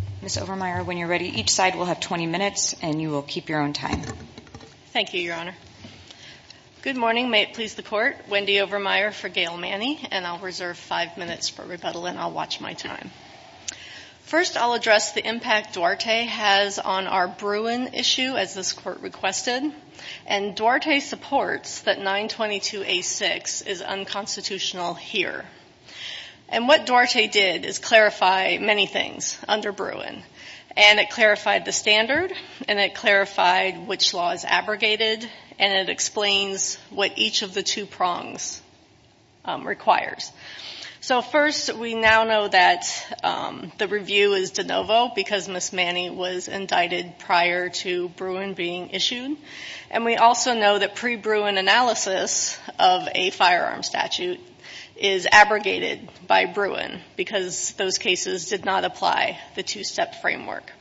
and I'll reserve five minutes for rebuttal and I'll watch my time. First, I'll address the impact Duarte has on our Bruin issue, as this court requested, and Duarte supports that 922A6 is unconstitutional here. And what Duarte did is clarify many things under Bruin, and it clarified the standard, and it clarified which law is abrogated, and it explains what each of the two prongs requires. So first, we now know that the review is de novo because Ms. Manney was indicted prior to Bruin being issued. And we also know that pre-Bruin analysis of a firearm statute is abrogated by Bruin because those cases did not apply the two-step framework.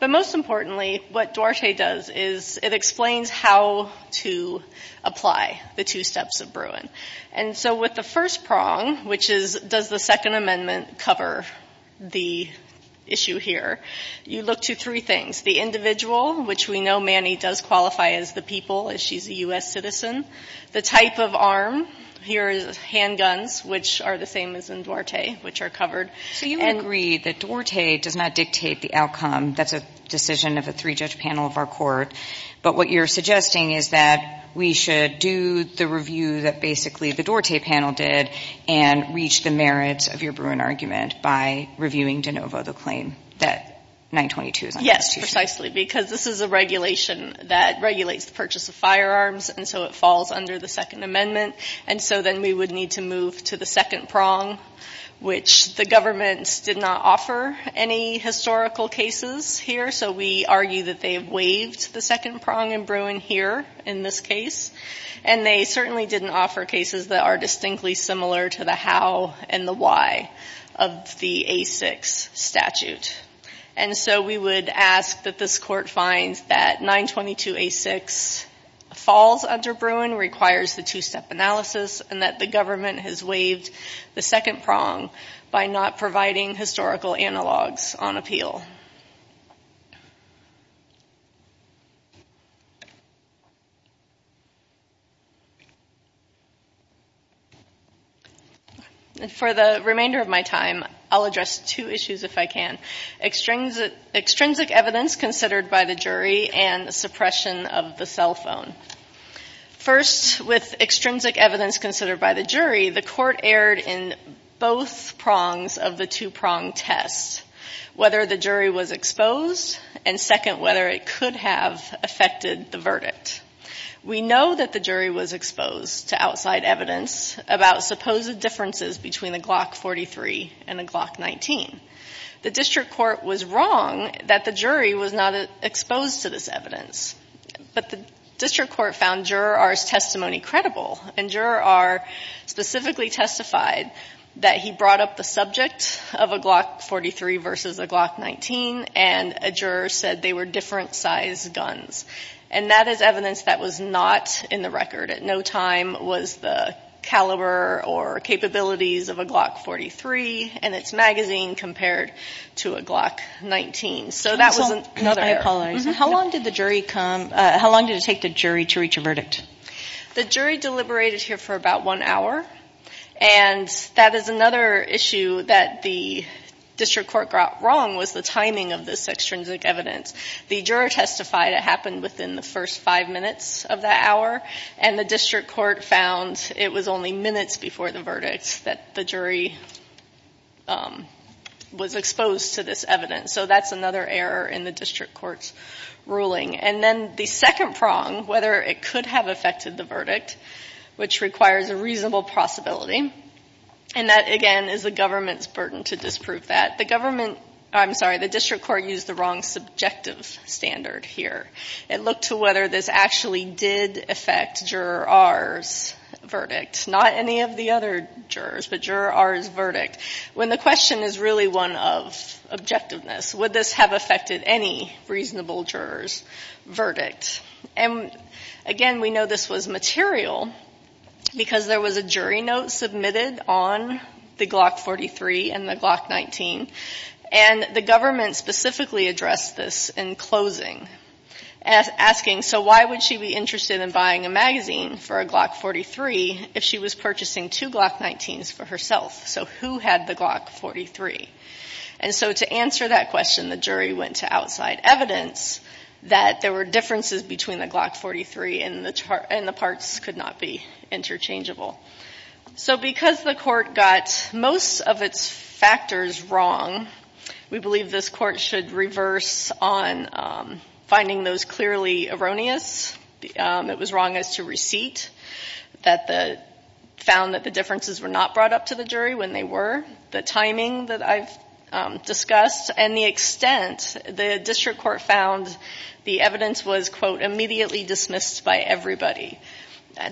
But most importantly, what Duarte does is it explains how to apply the two steps of Bruin. And so with the first prong, which is does the Second Amendment cover the issue here, you look to three things. The individual, which we know Manney does qualify as the people, as she's a U.S. citizen. The type of arm, here is handguns, which are the same as in Duarte, which are covered. So you agree that Duarte does not dictate the outcome. That's a decision of a three-judge panel of our court. But what you're suggesting is that we should do the review that basically the Duarte panel did and reach the merits of your Bruin argument by reviewing de novo the claim that 922 is unconstitutional. Yes, precisely. Because this is a regulation that regulates the purchase of firearms and so it falls under the Second Amendment. And so then we would need to move to the second prong, which the government did not offer any historical cases here. So we argue that they have waived the second prong in Bruin here in this case. And they certainly didn't offer cases that are distinctly similar to the how and the why of the A6 statute. And so we would ask that this court finds that 922A6 falls under Bruin, requires the two-step analysis, and that the government has waived the second prong by not providing historical analogs on appeal. And for the remainder of my time, I'll address two issues if I can. Extrinsic evidence considered by the jury and suppression of the cell phone. First, with extrinsic evidence considered by the jury, the court erred in both prongs of the two-prong test, whether the jury was exposed and second, whether it could have affected the verdict. We know that the jury was exposed to outside evidence about supposed differences between a Glock 43 and a Glock 19. The district court was wrong that the jury was not exposed to this evidence. But the district court found Juror R's testimony credible. And Juror R specifically testified that he brought up the subject of a Glock 43 versus a Glock 19, and a juror said they were different-sized guns. And that is evidence that was not in the record. At no time was the caliber or capabilities of a Glock 43 in its magazine compared to a Glock 19. So that was another error. How long did the jury come, how long did it take the jury to reach a verdict? The jury deliberated here for about one hour. And that is another issue that the district court got wrong was the timing of this extrinsic evidence. The juror testified it happened within the first five minutes of that hour, and the district court found it was only minutes before the verdict that the jury was exposed to this evidence. So that's another error in the district court's ruling. And then the second prong, whether it could have affected the verdict, which requires a reasonable possibility. And that, again, is the government's burden to disprove that. The district court used the wrong subjective standard here. It looked to whether this actually did affect Juror R's verdict. Not any of the other jurors, but Juror R's verdict. When the question is really one of objectiveness, would this have affected any reasonable juror's There was a jury note submitted on the Glock 43 and the Glock 19, and the government specifically addressed this in closing, asking, so why would she be interested in buying a magazine for a Glock 43 if she was purchasing two Glock 19s for herself? So who had the Glock 43? And so to answer that question, the jury went to outside evidence that there were differences between the Glock 43 and the parts could not be interchangeable. So because the court got most of its factors wrong, we believe this court should reverse on finding those clearly erroneous. It was wrong as to receipt, that the found that the differences were not brought up to the jury when they were, the timing that I've discussed, and the extent, the district court found the evidence was immediately dismissed by everybody.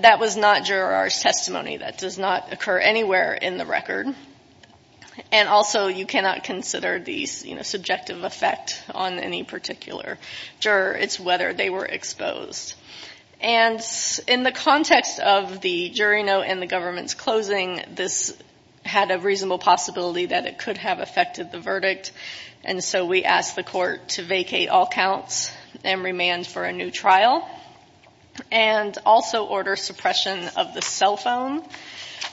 That was not Juror R's testimony. That does not occur anywhere in the record. And also you cannot consider the subjective effect on any particular juror. It's whether they were exposed. And in the context of the jury note and the government's closing, this had a reasonable possibility that it could have affected the verdict. And so we asked the court to vacate all counts and remand for a new trial. And also order suppression of the cell phone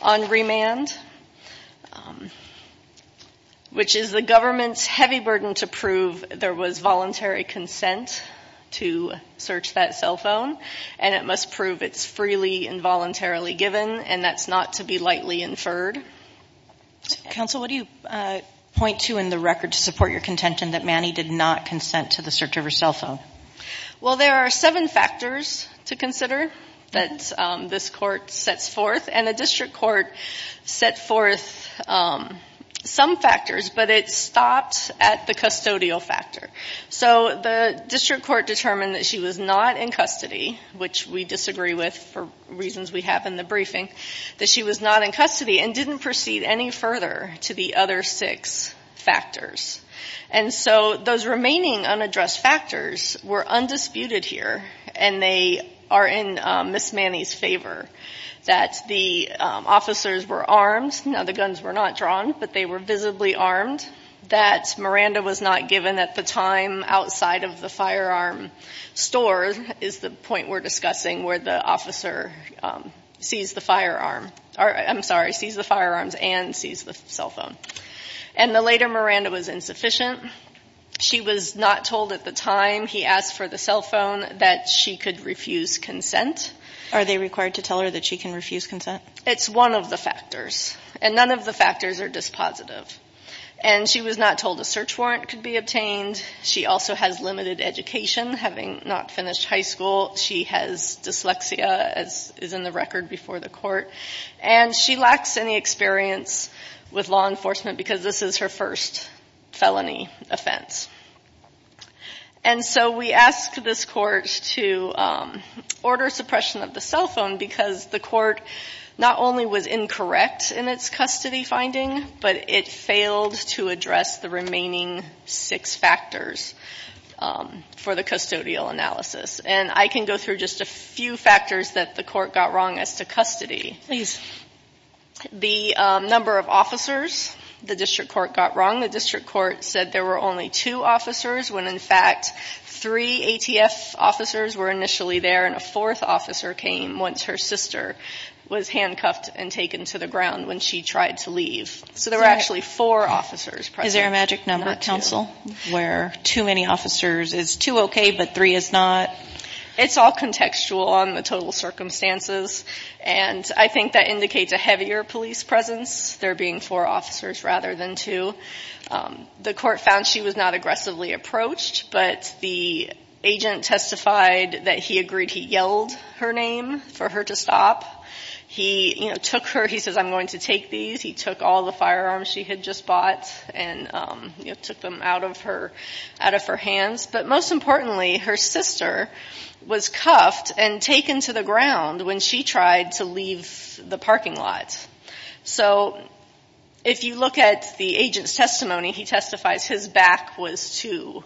on remand, which is the government's heavy burden to prove there was voluntary consent to search that cell phone. And it must prove it's freely and voluntarily given, and that's not to be lightly inferred. Counsel, what do you point to in the record to support your contention that Manny did not consent to the search of her cell phone? Well there are seven factors to consider that this court sets forth. And the district court set forth some factors, but it stopped at the custodial factor. So the district court determined that she was not in custody, which we disagree with for reasons we have in the hearing, that she was not in custody and didn't proceed any further to the other six factors. And so those remaining unaddressed factors were undisputed here, and they are in Ms. Manny's favor. That the officers were armed. Now the guns were not drawn, but they were visibly armed. That Miranda was not given at the time outside of the firearm store is the point we're discussing where the officer sees the firearm, I'm sorry, sees the firearms and sees the cell phone. And the later Miranda was insufficient. She was not told at the time he asked for the cell phone that she could refuse consent. Are they required to tell her that she can refuse consent? It's one of the factors. And none of the factors are dispositive. And she was not told a search warrant. She has dyslexia, as is in the record before the court. And she lacks any experience with law enforcement because this is her first felony offense. And so we asked this court to order suppression of the cell phone because the court not only was incorrect in its custody finding, but it failed to address the remaining six factors for the custodial analysis. And I can go through just a few factors that the court got wrong as to custody. The number of officers the district court got wrong. The district court said there were only two officers when in fact three ATF officers were initially there and a fourth officer came once her sister was handcuffed and taken to the ground when she tried to leave. So there were actually four officers present. Is there a magic number, counsel, where too many officers is too okay, but three is not? It's all contextual on the total circumstances. And I think that indicates a heavier police presence there being four officers rather than two. The court found she was not aggressively approached, but the agent testified that he agreed he yelled her name for her to stop. He took her, he says, I'm going to take these. He took all the firearms she had just bought and took them out of her hands. But most importantly, her sister was cuffed and taken to the ground when she tried to leave the parking lot. So if you look at the agent's testimony, he testifies his back was to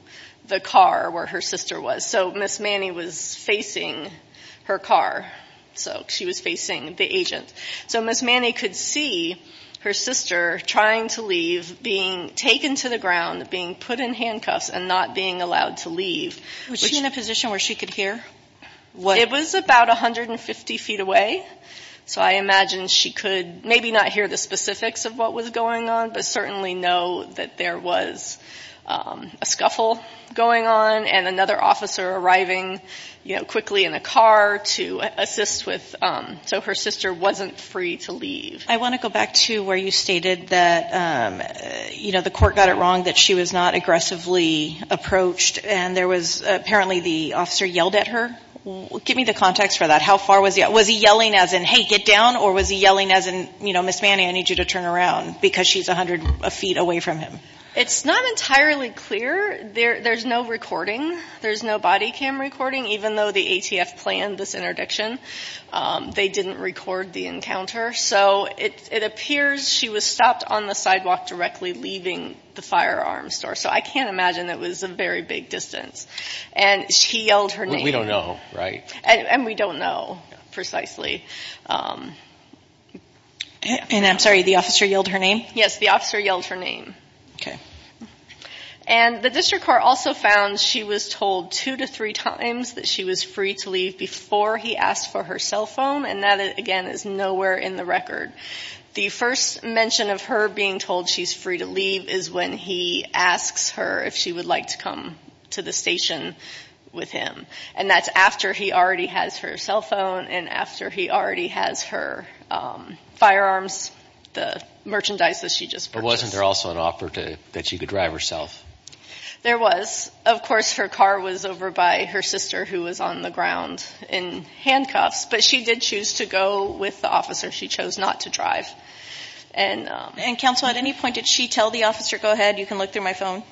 the car where her sister was. So Ms. Manny was facing her car. So she was being taken to the ground, being put in handcuffs and not being allowed to leave. Was she in a position where she could hear? It was about 150 feet away. So I imagine she could maybe not hear the specifics of what was going on, but certainly know that there was a scuffle going on and another officer arriving quickly in a car to assist with, so her sister wasn't free to leave. I want to go back to where you stated that, you know, the court got it wrong that she was not aggressively approached and there was apparently the officer yelled at her. Give me the context for that. How far was he? Was he yelling as in, hey, get down? Or was he yelling as in, you know, Ms. Manny, I need you to turn around because she's a hundred feet away from him? It's not entirely clear. There's no recording. There's no body cam recording, even though the ATF planned this interdiction, they didn't record the encounter. So it appears she was stopped on the sidewalk directly leaving the firearm store. So I can't imagine that was a very big distance. And she yelled her name. We don't know, right? And we don't know precisely. And I'm sorry, the officer yelled her name? Yes, the officer yelled her name. Okay. And the district court also found she was told two to three times that she was free to leave before he asked for her cell phone. And that, again, is nowhere in the record. The first mention of her being told she's free to leave is when he asks her if she would like to come to the station with him. And that's after he already has her cell phone and after he already has her firearms, the merchandise that she just purchased. So there wasn't also an offer that she could drive herself? There was. Of course, her car was over by her sister who was on the ground in handcuffs. But she did choose to go with the officer. She chose not to drive. And counsel, at any point did she tell the officer, go ahead, you can look through my phone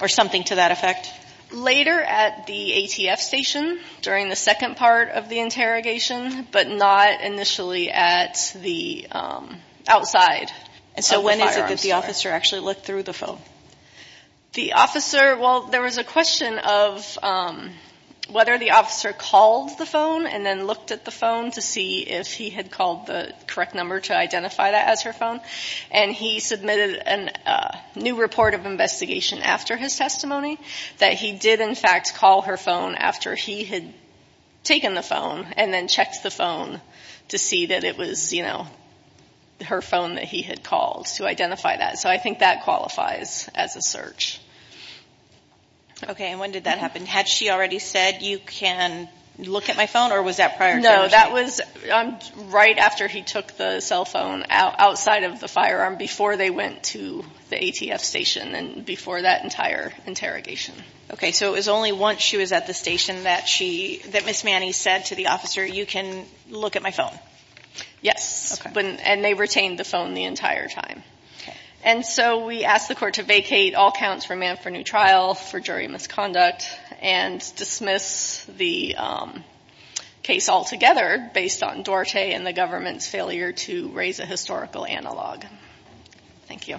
or something to that effect? Later at the ATF station during the second part of the interrogation, but not initially at the outside of the firearms store. And so when is it that the officer actually looked through the phone? The officer, well, there was a question of whether the officer called the phone and then looked at the phone to see if he had called the correct number to identify that as her phone. And he submitted a new report of investigation after his testimony that he did in fact call her phone after he had taken the phone and then checked the phone to see that it was her phone that he had called to identify that. So I think that qualifies as a search. Okay. And when did that happen? Had she already said, you can look at my phone? Or was that prior interrogation? No. That was right after he took the cell phone outside of the firearm, before they went to the ATF station and before that entire interrogation. Okay. So it was only once she was at the station that she, that Ms. Manning said to the officer, you can look at my phone? Yes. And they retained the phone the entire time. And so we asked the court to vacate all counts for man for new trial for jury misconduct and dismiss the case altogether based on Duarte and the government's failure to raise a historical analog. Thank you.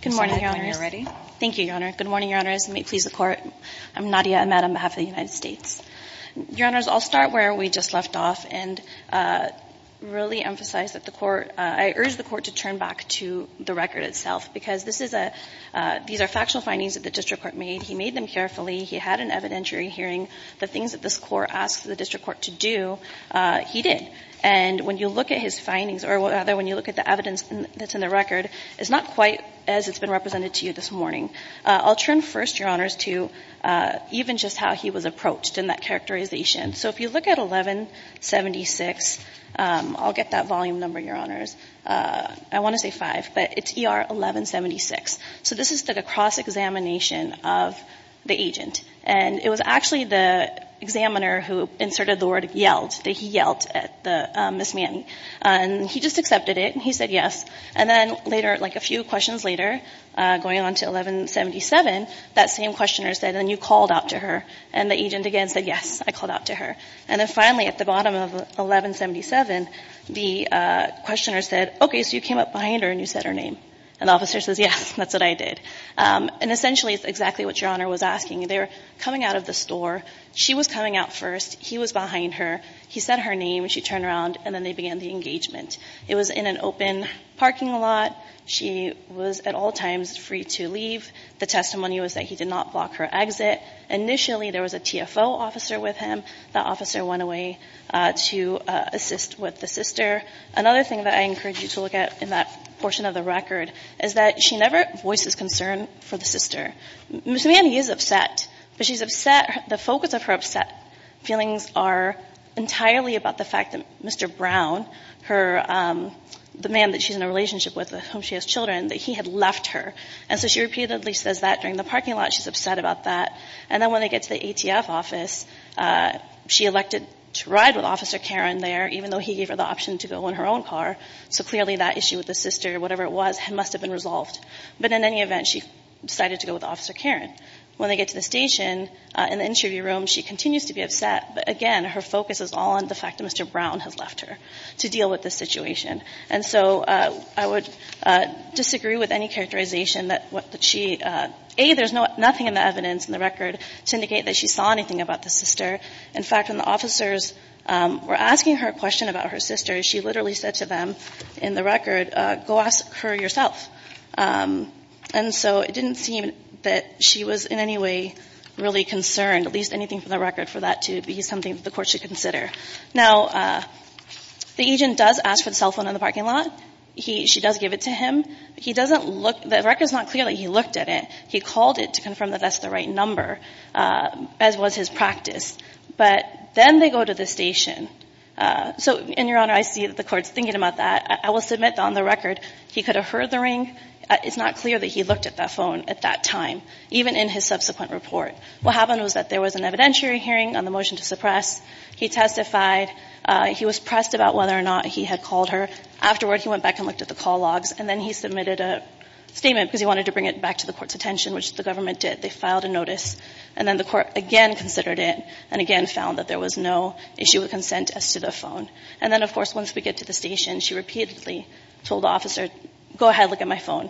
Good morning, Your Honors. Thank you, Your Honor. Good morning, Your Honors. And may it please the Court. I'm Nadia Ahmed on behalf of the United States. Your Honors, I'll start where we just left off and really emphasize that the Court, I urge the Court to turn back to the record itself because this is a, these are factual findings that the District Court made. He made them carefully. He had an evidentiary hearing. The things that this Court asked the District Court to do, he did. And when you look at his findings or rather when you look at the evidence that's in the record, it's not quite as it's been represented to you this morning. I'll turn first, Your Honors, to even just how he was approached in that characterization. So if you look at 1176, I'll get that volume number, Your Honors. I want to say 5, but it's ER 1176. So this is the cross-examination of the agent. And it was actually the examiner who inserted the word yelled, that he yelled at Ms. Manning. And he just accepted it. He said yes. And then later, like a few questions later, going on to 1177, that same questioner said, and you called out to her. And the agent again said, yes, I called out to her. And then finally at the bottom of 1177, the questioner said, okay, so you came up behind her and you said her name. And the officer says, yes, that's what I did. And essentially, it's exactly what Your Honor was asking. They're coming out of the store. She was coming out first. He was behind her. He said her name. She turned around, and then they began the engagement. It was in an open parking lot. She was at all times free to leave. The testimony was that he did not block her exit. Initially, there was a TFO officer with him. The officer went away to assist with the sister. Another thing that I encourage you to look at in that is, this man, he is upset. But she's upset. The focus of her upset feelings are entirely about the fact that Mr. Brown, the man that she's in a relationship with, with whom she has children, that he had left her. And so she repeatedly says that during the parking lot. She's upset about that. And then when they get to the ATF office, she elected to ride with Officer Karen there, even though he gave her the option to go in her own car. So clearly that issue with the sister, whatever it was, must have been resolved. But in any event, she decided to go with Officer Karen. When they get to the station, in the interview room, she continues to be upset. But again, her focus is all on the fact that Mr. Brown has left her to deal with this situation. And so I would disagree with any characterization that she, A, there's nothing in the evidence, in the record, to indicate that she saw anything about the sister. In fact, when the officers were asking her a question about her sister, she literally said to them in the record, go ask her yourself. And so it didn't seem that she was in any way really concerned, at least anything from the record, for that to be something that the court should consider. Now, the agent does ask for the cell phone in the parking lot. She does give it to him. He doesn't look, the record is not clear that he looked at it. He called it to confirm that that's the right number, as was his practice. But then they go to the station. So, and Your Honor, I see that the court's thinking about that. I will submit that on the record, he could have heard the ring. It's not clear that he looked at that phone at that time, even in his subsequent report. What happened was that there was an evidentiary hearing on the motion to suppress. He testified. He was pressed about whether or not he had called her. Afterward, he went back and looked at the call logs. And then he submitted a statement because he wanted to bring it back to the court's attention, which the government did. They filed a notice. And then the court again considered it and again found that there was no issue of consent as to the phone. And then, of course, once we get to the station, she repeatedly told the officer, go ahead, look at my phone.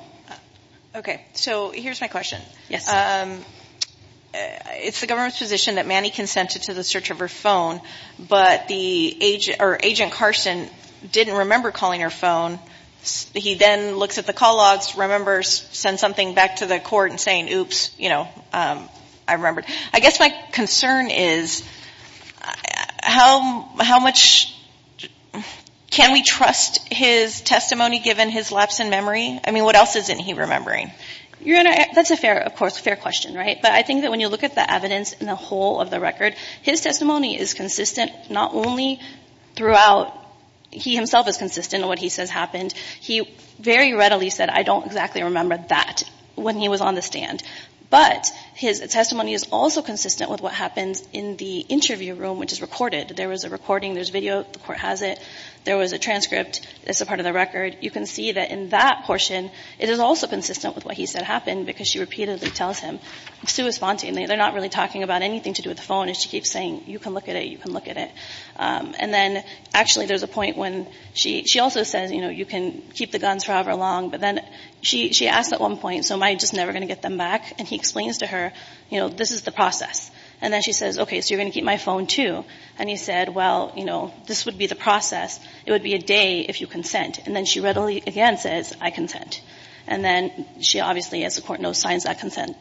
Okay. So here's my question. Yes. It's the government's position that Manny consented to the search of her phone, but the agent, or Agent Carson didn't remember calling her phone. He then looks at the call logs, remembers, sends something back to the court and saying, oops, you know, I remembered. I guess my concern is how much can we trust his testimony given his lapse in memory? I mean, what else isn't he remembering? Your Honor, that's a fair, of course, fair question, right? But I think that when you look at the evidence in the whole of the record, his testimony is consistent not only throughout he, himself, is consistent in what he says happened. He very readily said, I don't exactly remember that, when he was on the stand. But his testimony is also consistent with what happens in the interview room, which is recorded. There was a recording. There's video. The court has it. There was a transcript. It's a part of the record. You can see that in that portion, it is also consistent with what he said happened because she repeatedly tells him. It's so spontaneous. They're not really talking about anything to do with the phone, and she keeps saying, you can look at it, you can look at it. And then, actually, there's a point when she also says, you know, you can keep the guns forever long, but then she asks at one point, so am I just never going to get them back? And he explains to her, you know, this is the process. And then she says, okay, so you're going to keep my phone, too. And he said, well, you know, this would be the process. It would be a day if you consent. And then she readily, again, says, I consent. And then she obviously, as the court knows, signs that consent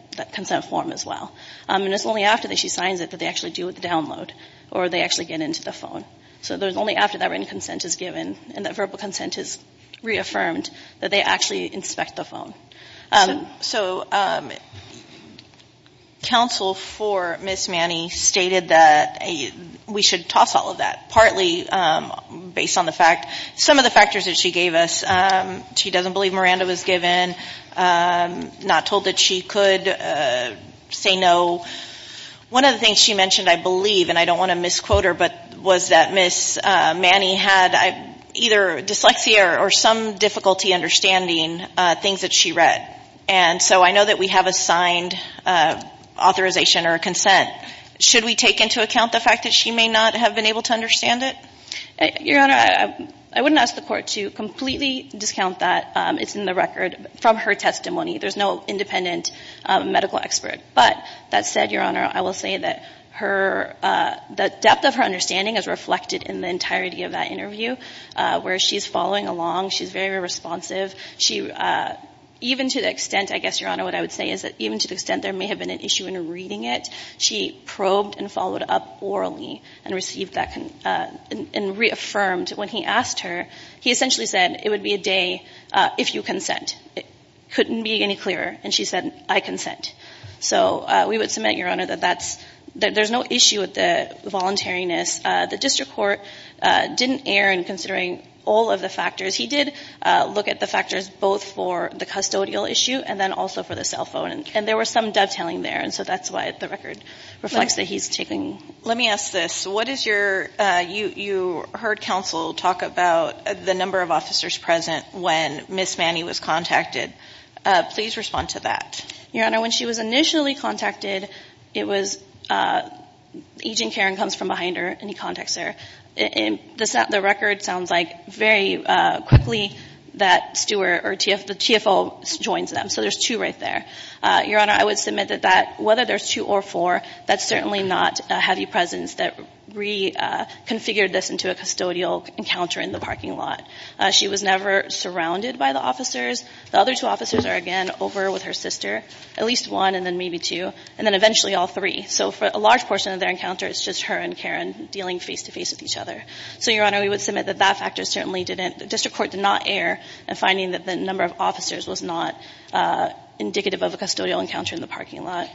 form as well. And it's only after that she signs it that they actually deal with the download or they actually get into the phone. So there's only after that written consent is given and that verbal consent is reaffirmed that they actually inspect the phone. So counsel for Ms. Manny stated that we should toss all of that, partly based on the fact, some of the factors that she gave us. She doesn't believe Miranda was given, not told that she could say no. One of the things she mentioned, I believe, and I don't want to difficulty understanding things that she read. And so I know that we have a signed authorization or a consent. Should we take into account the fact that she may not have been able to understand it? Your Honor, I wouldn't ask the court to completely discount that. It's in the record from her testimony. There's no independent medical expert. But that said, Your Honor, I will say that her, the depth of her understanding is reflected in the entirety of that interview where she's following along. She's very responsive. Even to the extent, I guess, Your Honor, what I would say is that even to the extent there may have been an issue in reading it, she probed and followed up orally and received that and reaffirmed when he asked her. He essentially said, it would be a day if you consent. It couldn't be any clearer. And she said, I consent. So we would submit, Your Honor, that there's no issue with the voluntariness. The district court didn't err in considering all of the factors. He did look at the factors both for the custodial issue and then also for the cell phone. And there was some dovetailing there. And so that's why the record reflects that he's taking. Let me ask this. What is your, you heard counsel talk about the number of officers present when Ms. Manny was contacted. Please respond to that. Your Honor, when she was initially contacted, it was, Agent Karen comes from behind her and he contacts her. The record sounds like very quickly that Stewart or the TFO joins them. So there's two right there. Your Honor, I would submit that whether there's two or four, that's certainly not heavy presence that reconfigured this into a custodial encounter in the parking lot. She was never surrounded by the officers. The other two officers are, again, over with her sister, at least one and then maybe two, and then eventually all three. So for a large portion of their encounter, it's just her and Karen dealing face-to-face with each other. So, Your Honor, we would submit that that factor certainly didn't – the district court did not err in finding that the number of officers was not indicative of a custodial encounter in the parking lot.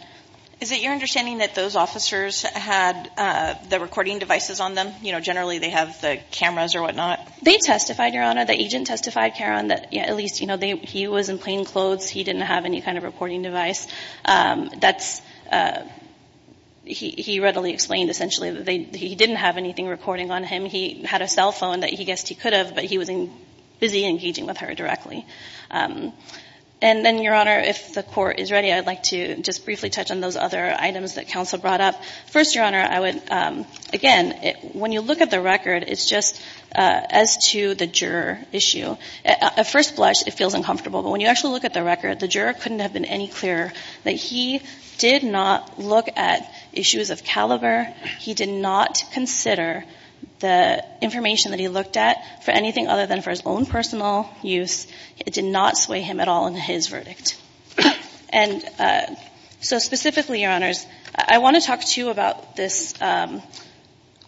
Is it your understanding that those officers had the recording devices on them? You know, generally they have the cameras or whatnot. They testified, Your Honor. The agent testified, Karen, that at least, you know, he was in plainclothes. He didn't have any kind of recording device. That's – he readily explained essentially that they – he didn't have anything recording on him. He had a cell phone that he guessed he could have, but he was busy engaging with her directly. And then, Your Honor, if the Court is ready, I'd like to just briefly touch on those other items that counsel brought up. First, Your Honor, I would – again, when you look at the record, it's just as to the juror issue. At first blush, it feels uncomfortable, but when you actually look at the record, the juror couldn't have been any clearer that he did not look at issues of caliber. He did not consider the information that he looked at for anything other than for his own personal use. It did not sway him at all in his verdict. And so specifically, Your Honors, I want to talk to you about this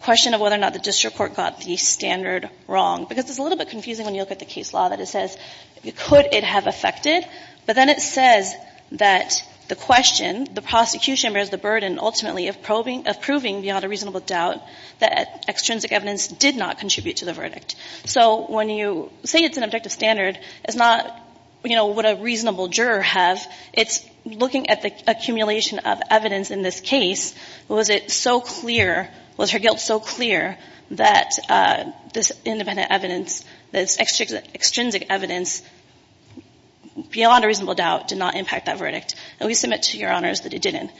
question of whether or not the district court got the standard wrong, because it's a little bit confusing when you look at the case law that it says, could it have affected? But then it says that the question, the prosecution, bears the burden ultimately of proving beyond a reasonable doubt that extrinsic evidence did not contribute to the verdict. So when you say it's an objective standard, it's not, you know, would a reasonable juror have. It's looking at the accumulation of evidence in this case. Was it so clear or was her guilt so clear that this independent evidence, this extrinsic evidence beyond a reasonable doubt did not impact that verdict? And we submit to Your Honors that it didn't.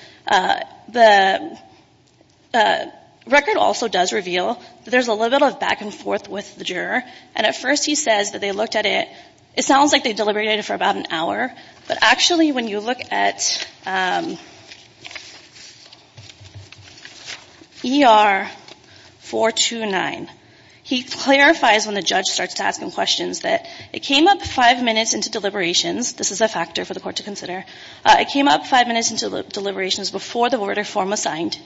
The record also does reveal that there's a little bit of back and forth with the juror. And at first he says that they looked at it. It sounds like they deliberated for about an hour. But actually, when you look at ER-429, he clarifies when the judge starts to ask him questions that it came up five minutes into deliberations. This is a factor for the court to consider. It came up five minutes into deliberations before the verdict form was signed.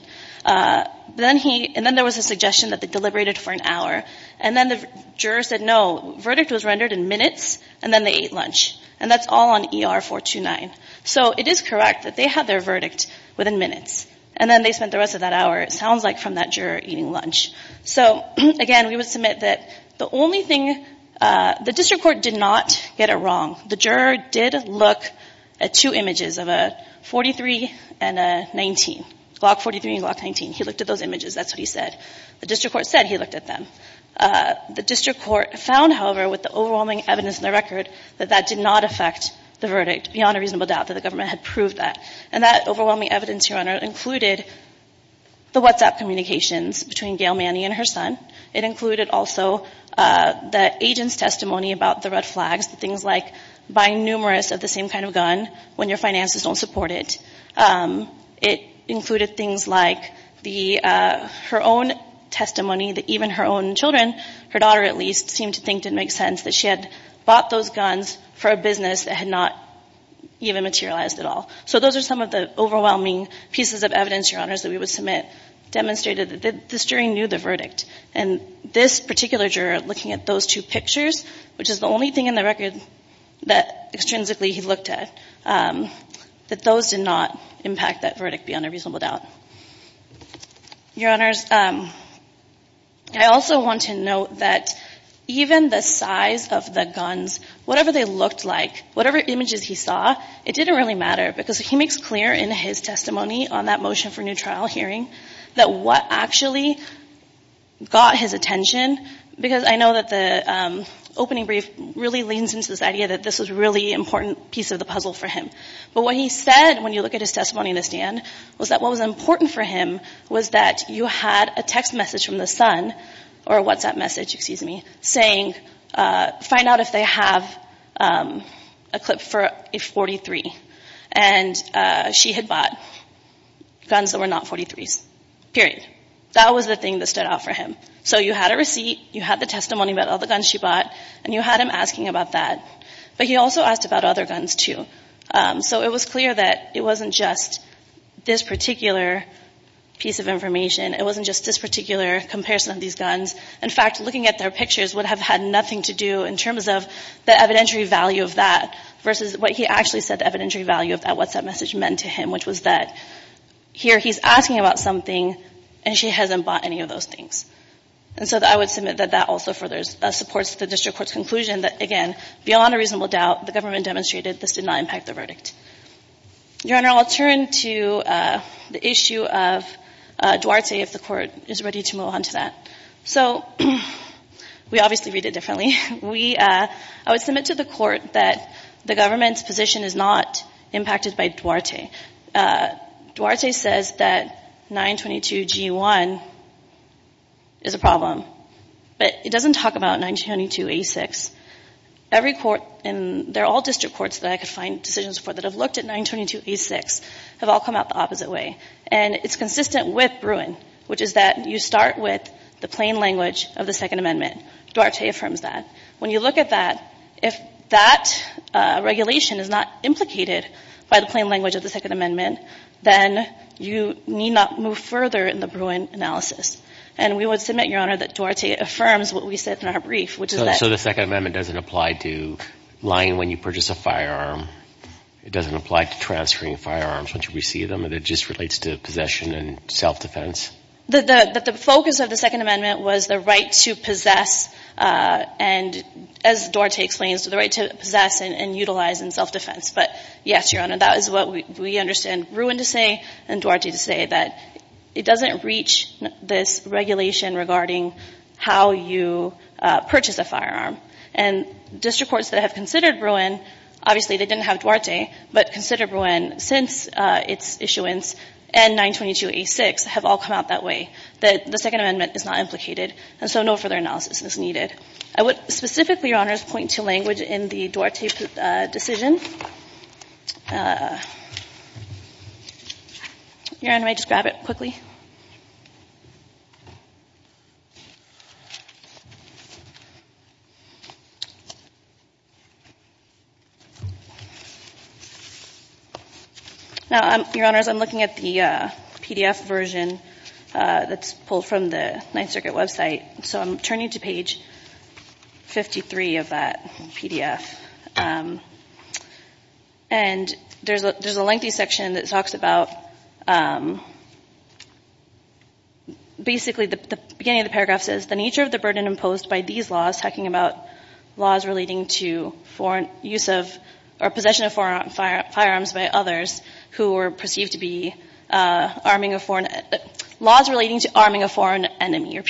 Then he, and then there was a suggestion that they deliberated for an hour. And then the juror said, no, verdict was rendered in minutes. And then they ate lunch. And that's all on ER-429. So it is correct that they had their verdict within minutes. And then they spent the rest of that hour, it sounds like, from that juror eating lunch. So, again, we would submit that the only thing, the district court did not get it wrong. The juror did look at two images of a 43 and a 19, Glock 43 and Glock 19. He looked at those images. That's what he said. The district court said he looked at them. The district court found, however, with the overwhelming evidence in the record, that that did not affect the verdict beyond a reasonable doubt that the government had proved that. And that overwhelming evidence, Your Honor, included the WhatsApp communications between Gail Manny and her son. It included also the agent's testimony about the red flags, things like buying numerous of the same kind of gun when your finances don't support it. It included things like her own testimony that even her own children, her daughter at least, seemed to think didn't make sense, that she had bought those guns for a business that had not even materialized at all. So those are some of the overwhelming pieces of evidence, Your Honors, that we would submit demonstrated that this jury knew the verdict. And this particular juror, looking at those two pictures, which is the only thing in the record that, extrinsically, he looked at, that those did not impact that verdict beyond a reasonable doubt. Your Honors, I also want to note that even the size of the guns, whatever they looked like, whatever images he saw, it didn't really matter because he makes clear in his testimony on that motion for new trial hearing that what actually got his attention, because I know that the opening brief really leans into this idea that this was a really important piece of the puzzle for him. But what he said, when you look at his testimony in the stand, was that what was important for him was that you had a text message from the son, or a WhatsApp message, excuse me, saying, find out if they have a clip for a .43. And she had bought guns that were not .43s, period. That was the thing that stood out for him. So you had a receipt, you had the testimony about all the guns she bought, and you had him asking about that. But he also asked about other guns, too. So it was clear that it wasn't just this particular piece of information, it wasn't just this particular comparison of these guns. In fact, looking at their pictures would have had nothing to do in terms of the evidentiary value of that versus what he actually said, the evidentiary value of that WhatsApp message meant to him, which was that here he's asking about something and she hasn't bought any of those things. And so I would submit that that also further supports the District Court's conclusion that, again, beyond a reasonable doubt, the government demonstrated this did not impact the verdict. Your Honor, I'll turn to the issue of Duarte if the Court is ready to move on to that. So, we obviously read it differently. I would submit to the Court that the government's position is not impacted by Duarte. Duarte says that 922 G1 is a problem, but it doesn't talk about 922 A6. Every court, and they're all District Courts that I could find decisions for that have looked at 922 A6, have all come out the opposite way. And it's consistent with Bruin, which is that you start with the plain language of the Second Amendment. Duarte affirms that. When you look at that, if that regulation is not implicated by the plain language of the Second Amendment, then you need not move further in the Bruin analysis. And we would submit, Your Honor, that Duarte affirms what we said in our brief, which is that So the Second Amendment doesn't apply to lying when you purchase a firearm? It doesn't apply to transferring firearms once you receive them? It just relates to possession and self-defense? The focus of the Second Amendment was the right to possess and, as Duarte explains, the right to possess and utilize in self-defense. But, yes, Your Honor, that is what we understand Bruin to say and Duarte to say, that it doesn't reach this regulation regarding how you purchase a firearm. And District Courts that have considered Bruin, obviously they didn't have Duarte, but considered Bruin since its issuance, and 922 A6, have all come out that way, that the Second Amendment is not implicated. And so no further analysis is needed. I would specifically, Your Honor, point to language in the Duarte decision. Your Honor, may I just grab it quickly? Now, Your Honors, I'm looking at the PDF version that's pulled from the Ninth Circuit website. So I'm turning to page 53 of that PDF. And there's a lengthy section that talks about basically the beginning of the paragraph says, the nature of the burden imposed by these laws, talking about laws relating to foreign use of, or possession of foreign firearms by others who were perceived to be arming a foreign, laws relating to arming a foreign enemy. The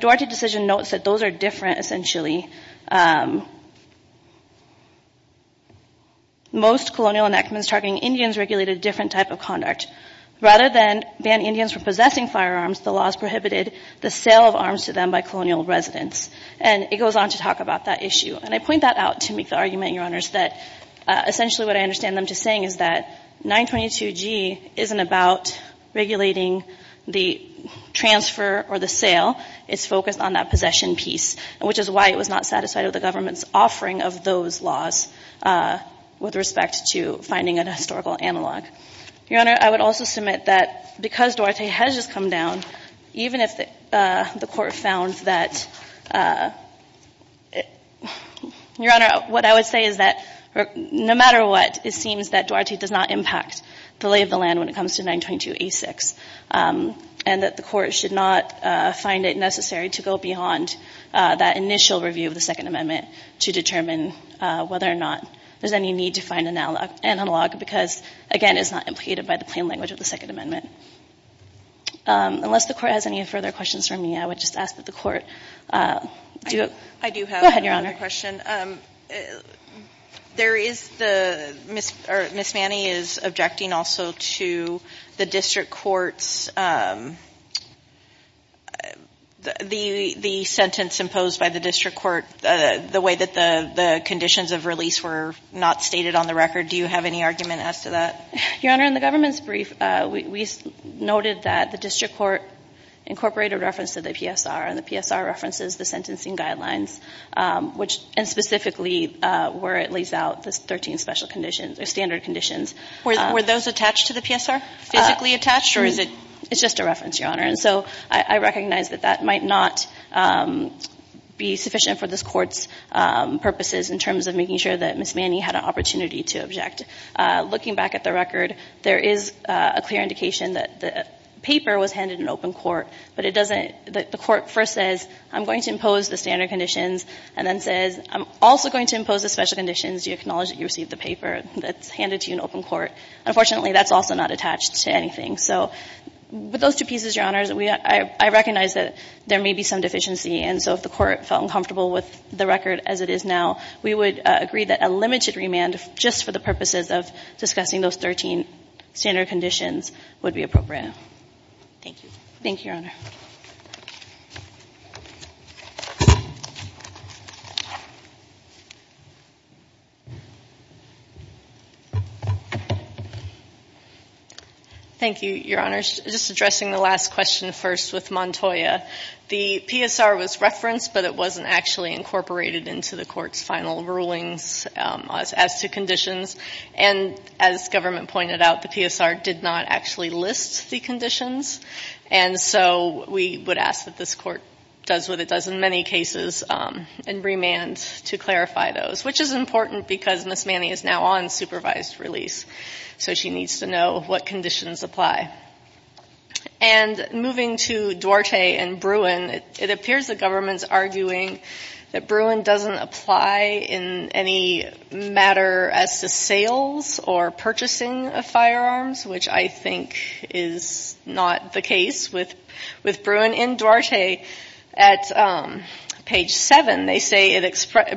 Duarte decision notes that those are different essentially. Most colonial enactments targeting Indians regulate a different type of conduct. Rather than ban Indians from possessing firearms, the laws prohibited the sale of arms to them by colonial residents. And it goes on to talk about that issue. And I point that out to make the argument, Your Honors, that essentially what I understand them to saying is that 922G isn't about regulating the transfer or the sale. It's focused on that possession piece, which is why it was not satisfied with the government's offering of those laws with respect to finding a historical analog. Your Honor, I would also submit that because Duarte has just come down, even if the court found that Your Honor, what I would say is that no matter what, it seems that Duarte does not impact the lay of the land when it comes to 922A6. And that the court should not find it necessary to go beyond that initial review of the Second Amendment to determine whether or not there's any need to find an analog because, again, it's not implicated by the plain language of the Second Amendment. Unless the court has any further questions for me, I would just ask that the court go ahead, Your Honor. I do have another question. Ms. Manning is objecting also to the district court's sentence imposed by the district court, the way that the conditions of the district court incorporate a reference to the PSR, and the PSR references the sentencing guidelines, and specifically where it lays out the 13 special conditions or standard conditions. Were those attached to the PSR, physically attached, or is it... It's just a reference, Your Honor. And so I recognize that that might not be sufficient for this court's purposes in terms of making sure that Ms. Manning had an accurate indication that the paper was handed in open court, but it doesn't... The court first says, I'm going to impose the standard conditions, and then says, I'm also going to impose the special conditions. Do you acknowledge that you received the paper that's handed to you in open court? Unfortunately, that's also not attached to anything. So with those two pieces, Your Honor, I recognize that there may be some deficiency. And so if the court felt uncomfortable with the record as it is now, we would agree that a limited remand, just for the purposes of discussing those 13 standard conditions, would be appropriate. Thank you. Thank you, Your Honor. Thank you, Your Honor. Just addressing the last question first with Montoya. The PSR was referenced, but it wasn't actually incorporated into the court's final rulings as to conditions. And as government pointed out, the PSR did not actually list the conditions. And so we would ask that this court does what it does in many cases and remand to clarify those, which is important because Ms. Manning is now on supervised release. So she needs to know what conditions apply. And moving to Duarte and Bruin, it appears the government's arguing that Bruin doesn't apply in any matter as to sales or purchasing of firearms, which I think is not the case with Bruin. In Duarte, at page 7, they say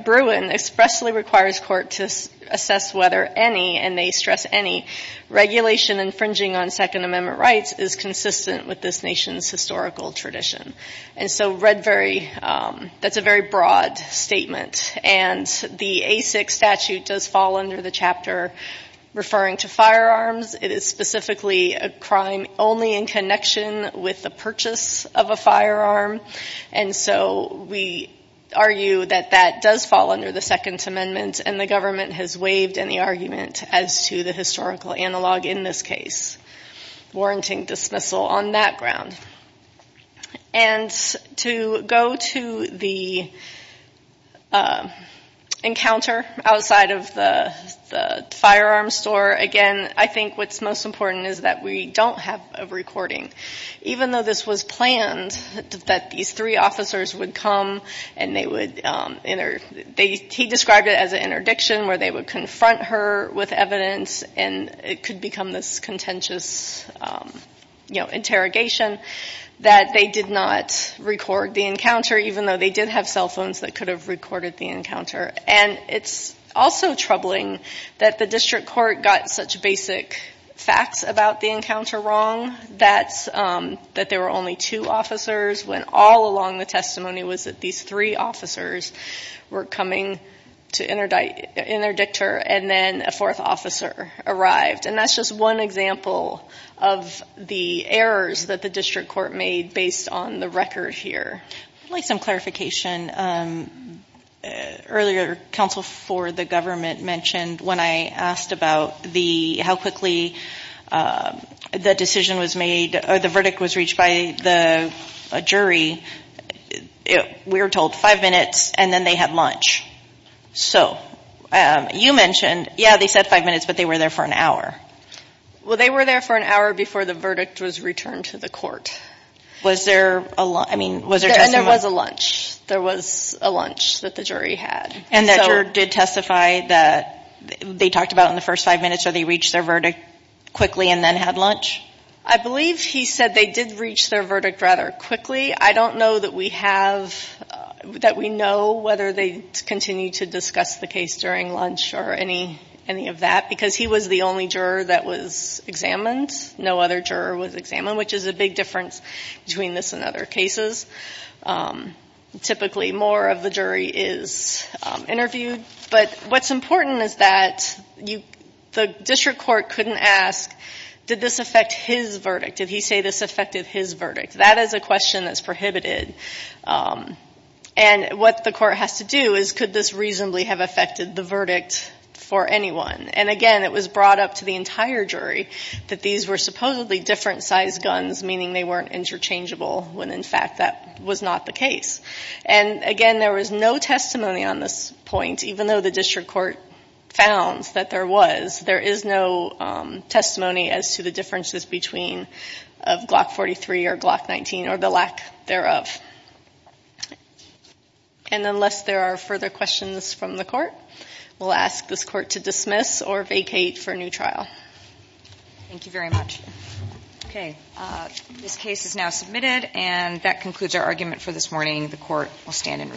Bruin expressly requires court to assess whether any, and they stress any, regulation infringing on Second Amendment rights is consistent with this nation's historical tradition. And so that's a very broad statement. And the ASIC statute does fall under the chapter referring to firearms. It is specifically a crime only in connection with the purchase of a firearm. And so we argue that that does fall under the Second Amendment, and the government has waived any argument as to the historical analog in this case, warranting dismissal on that ground. And to go to the encounter outside of the firearms store, again, I think we have to look at the history of firearms. And I think what's most important is that we don't have a recording. Even though this was planned that these three officers would come, and they would, he described it as an interdiction where they would confront her with evidence, and it could become this contentious interrogation, that they did not record the encounter, even though they did have cell phones that could have recorded the encounter. There were facts about the encounter wrong, that there were only two officers, when all along the testimony was that these three officers were coming to interdict her, and then a fourth officer arrived. And that's just one example of the errors that the district court made based on the record here. I'd like some clarification. Earlier, counsel for the government mentioned, when I asked about how quickly the decision was made, or the verdict was reached by the jury, we were told five minutes, and then they had lunch. So you mentioned, yeah, they said five minutes, but they were there for an hour. Well, they were there for an hour before the verdict was returned to the court. And there was a lunch. There was a lunch that the jury had. And that juror did testify that they talked about it in the first five minutes, or they reached their verdict quickly and then had lunch? I believe he said they did reach their verdict rather quickly. I don't know that we have, that we know whether they continued to discuss the case during lunch or any of that, because he was the only juror that was examined. No other juror was examined, which is a big difference between this and other cases. Typically, more of the jury is interviewed. But what's important is that the district court couldn't ask, did this affect his verdict? Did he say this affected his verdict? That is a question that's prohibited. And what the court has to do is, could this reasonably have affected the verdict for anyone? And, again, it was brought up to the entire jury that these were supposedly different-sized guns, meaning they weren't interchangeable, when, in fact, that was not the case. And, again, there was no testimony on this point, even though the district court found that there was. There is no testimony as to the differences between Glock 43 or Glock 19 or the lack thereof. And unless there are further questions from the court, we'll ask this court to dismiss or vacate for new trial. Thank you very much. Okay. This case is now submitted, and that concludes our argument for this morning. The court will stand in recess.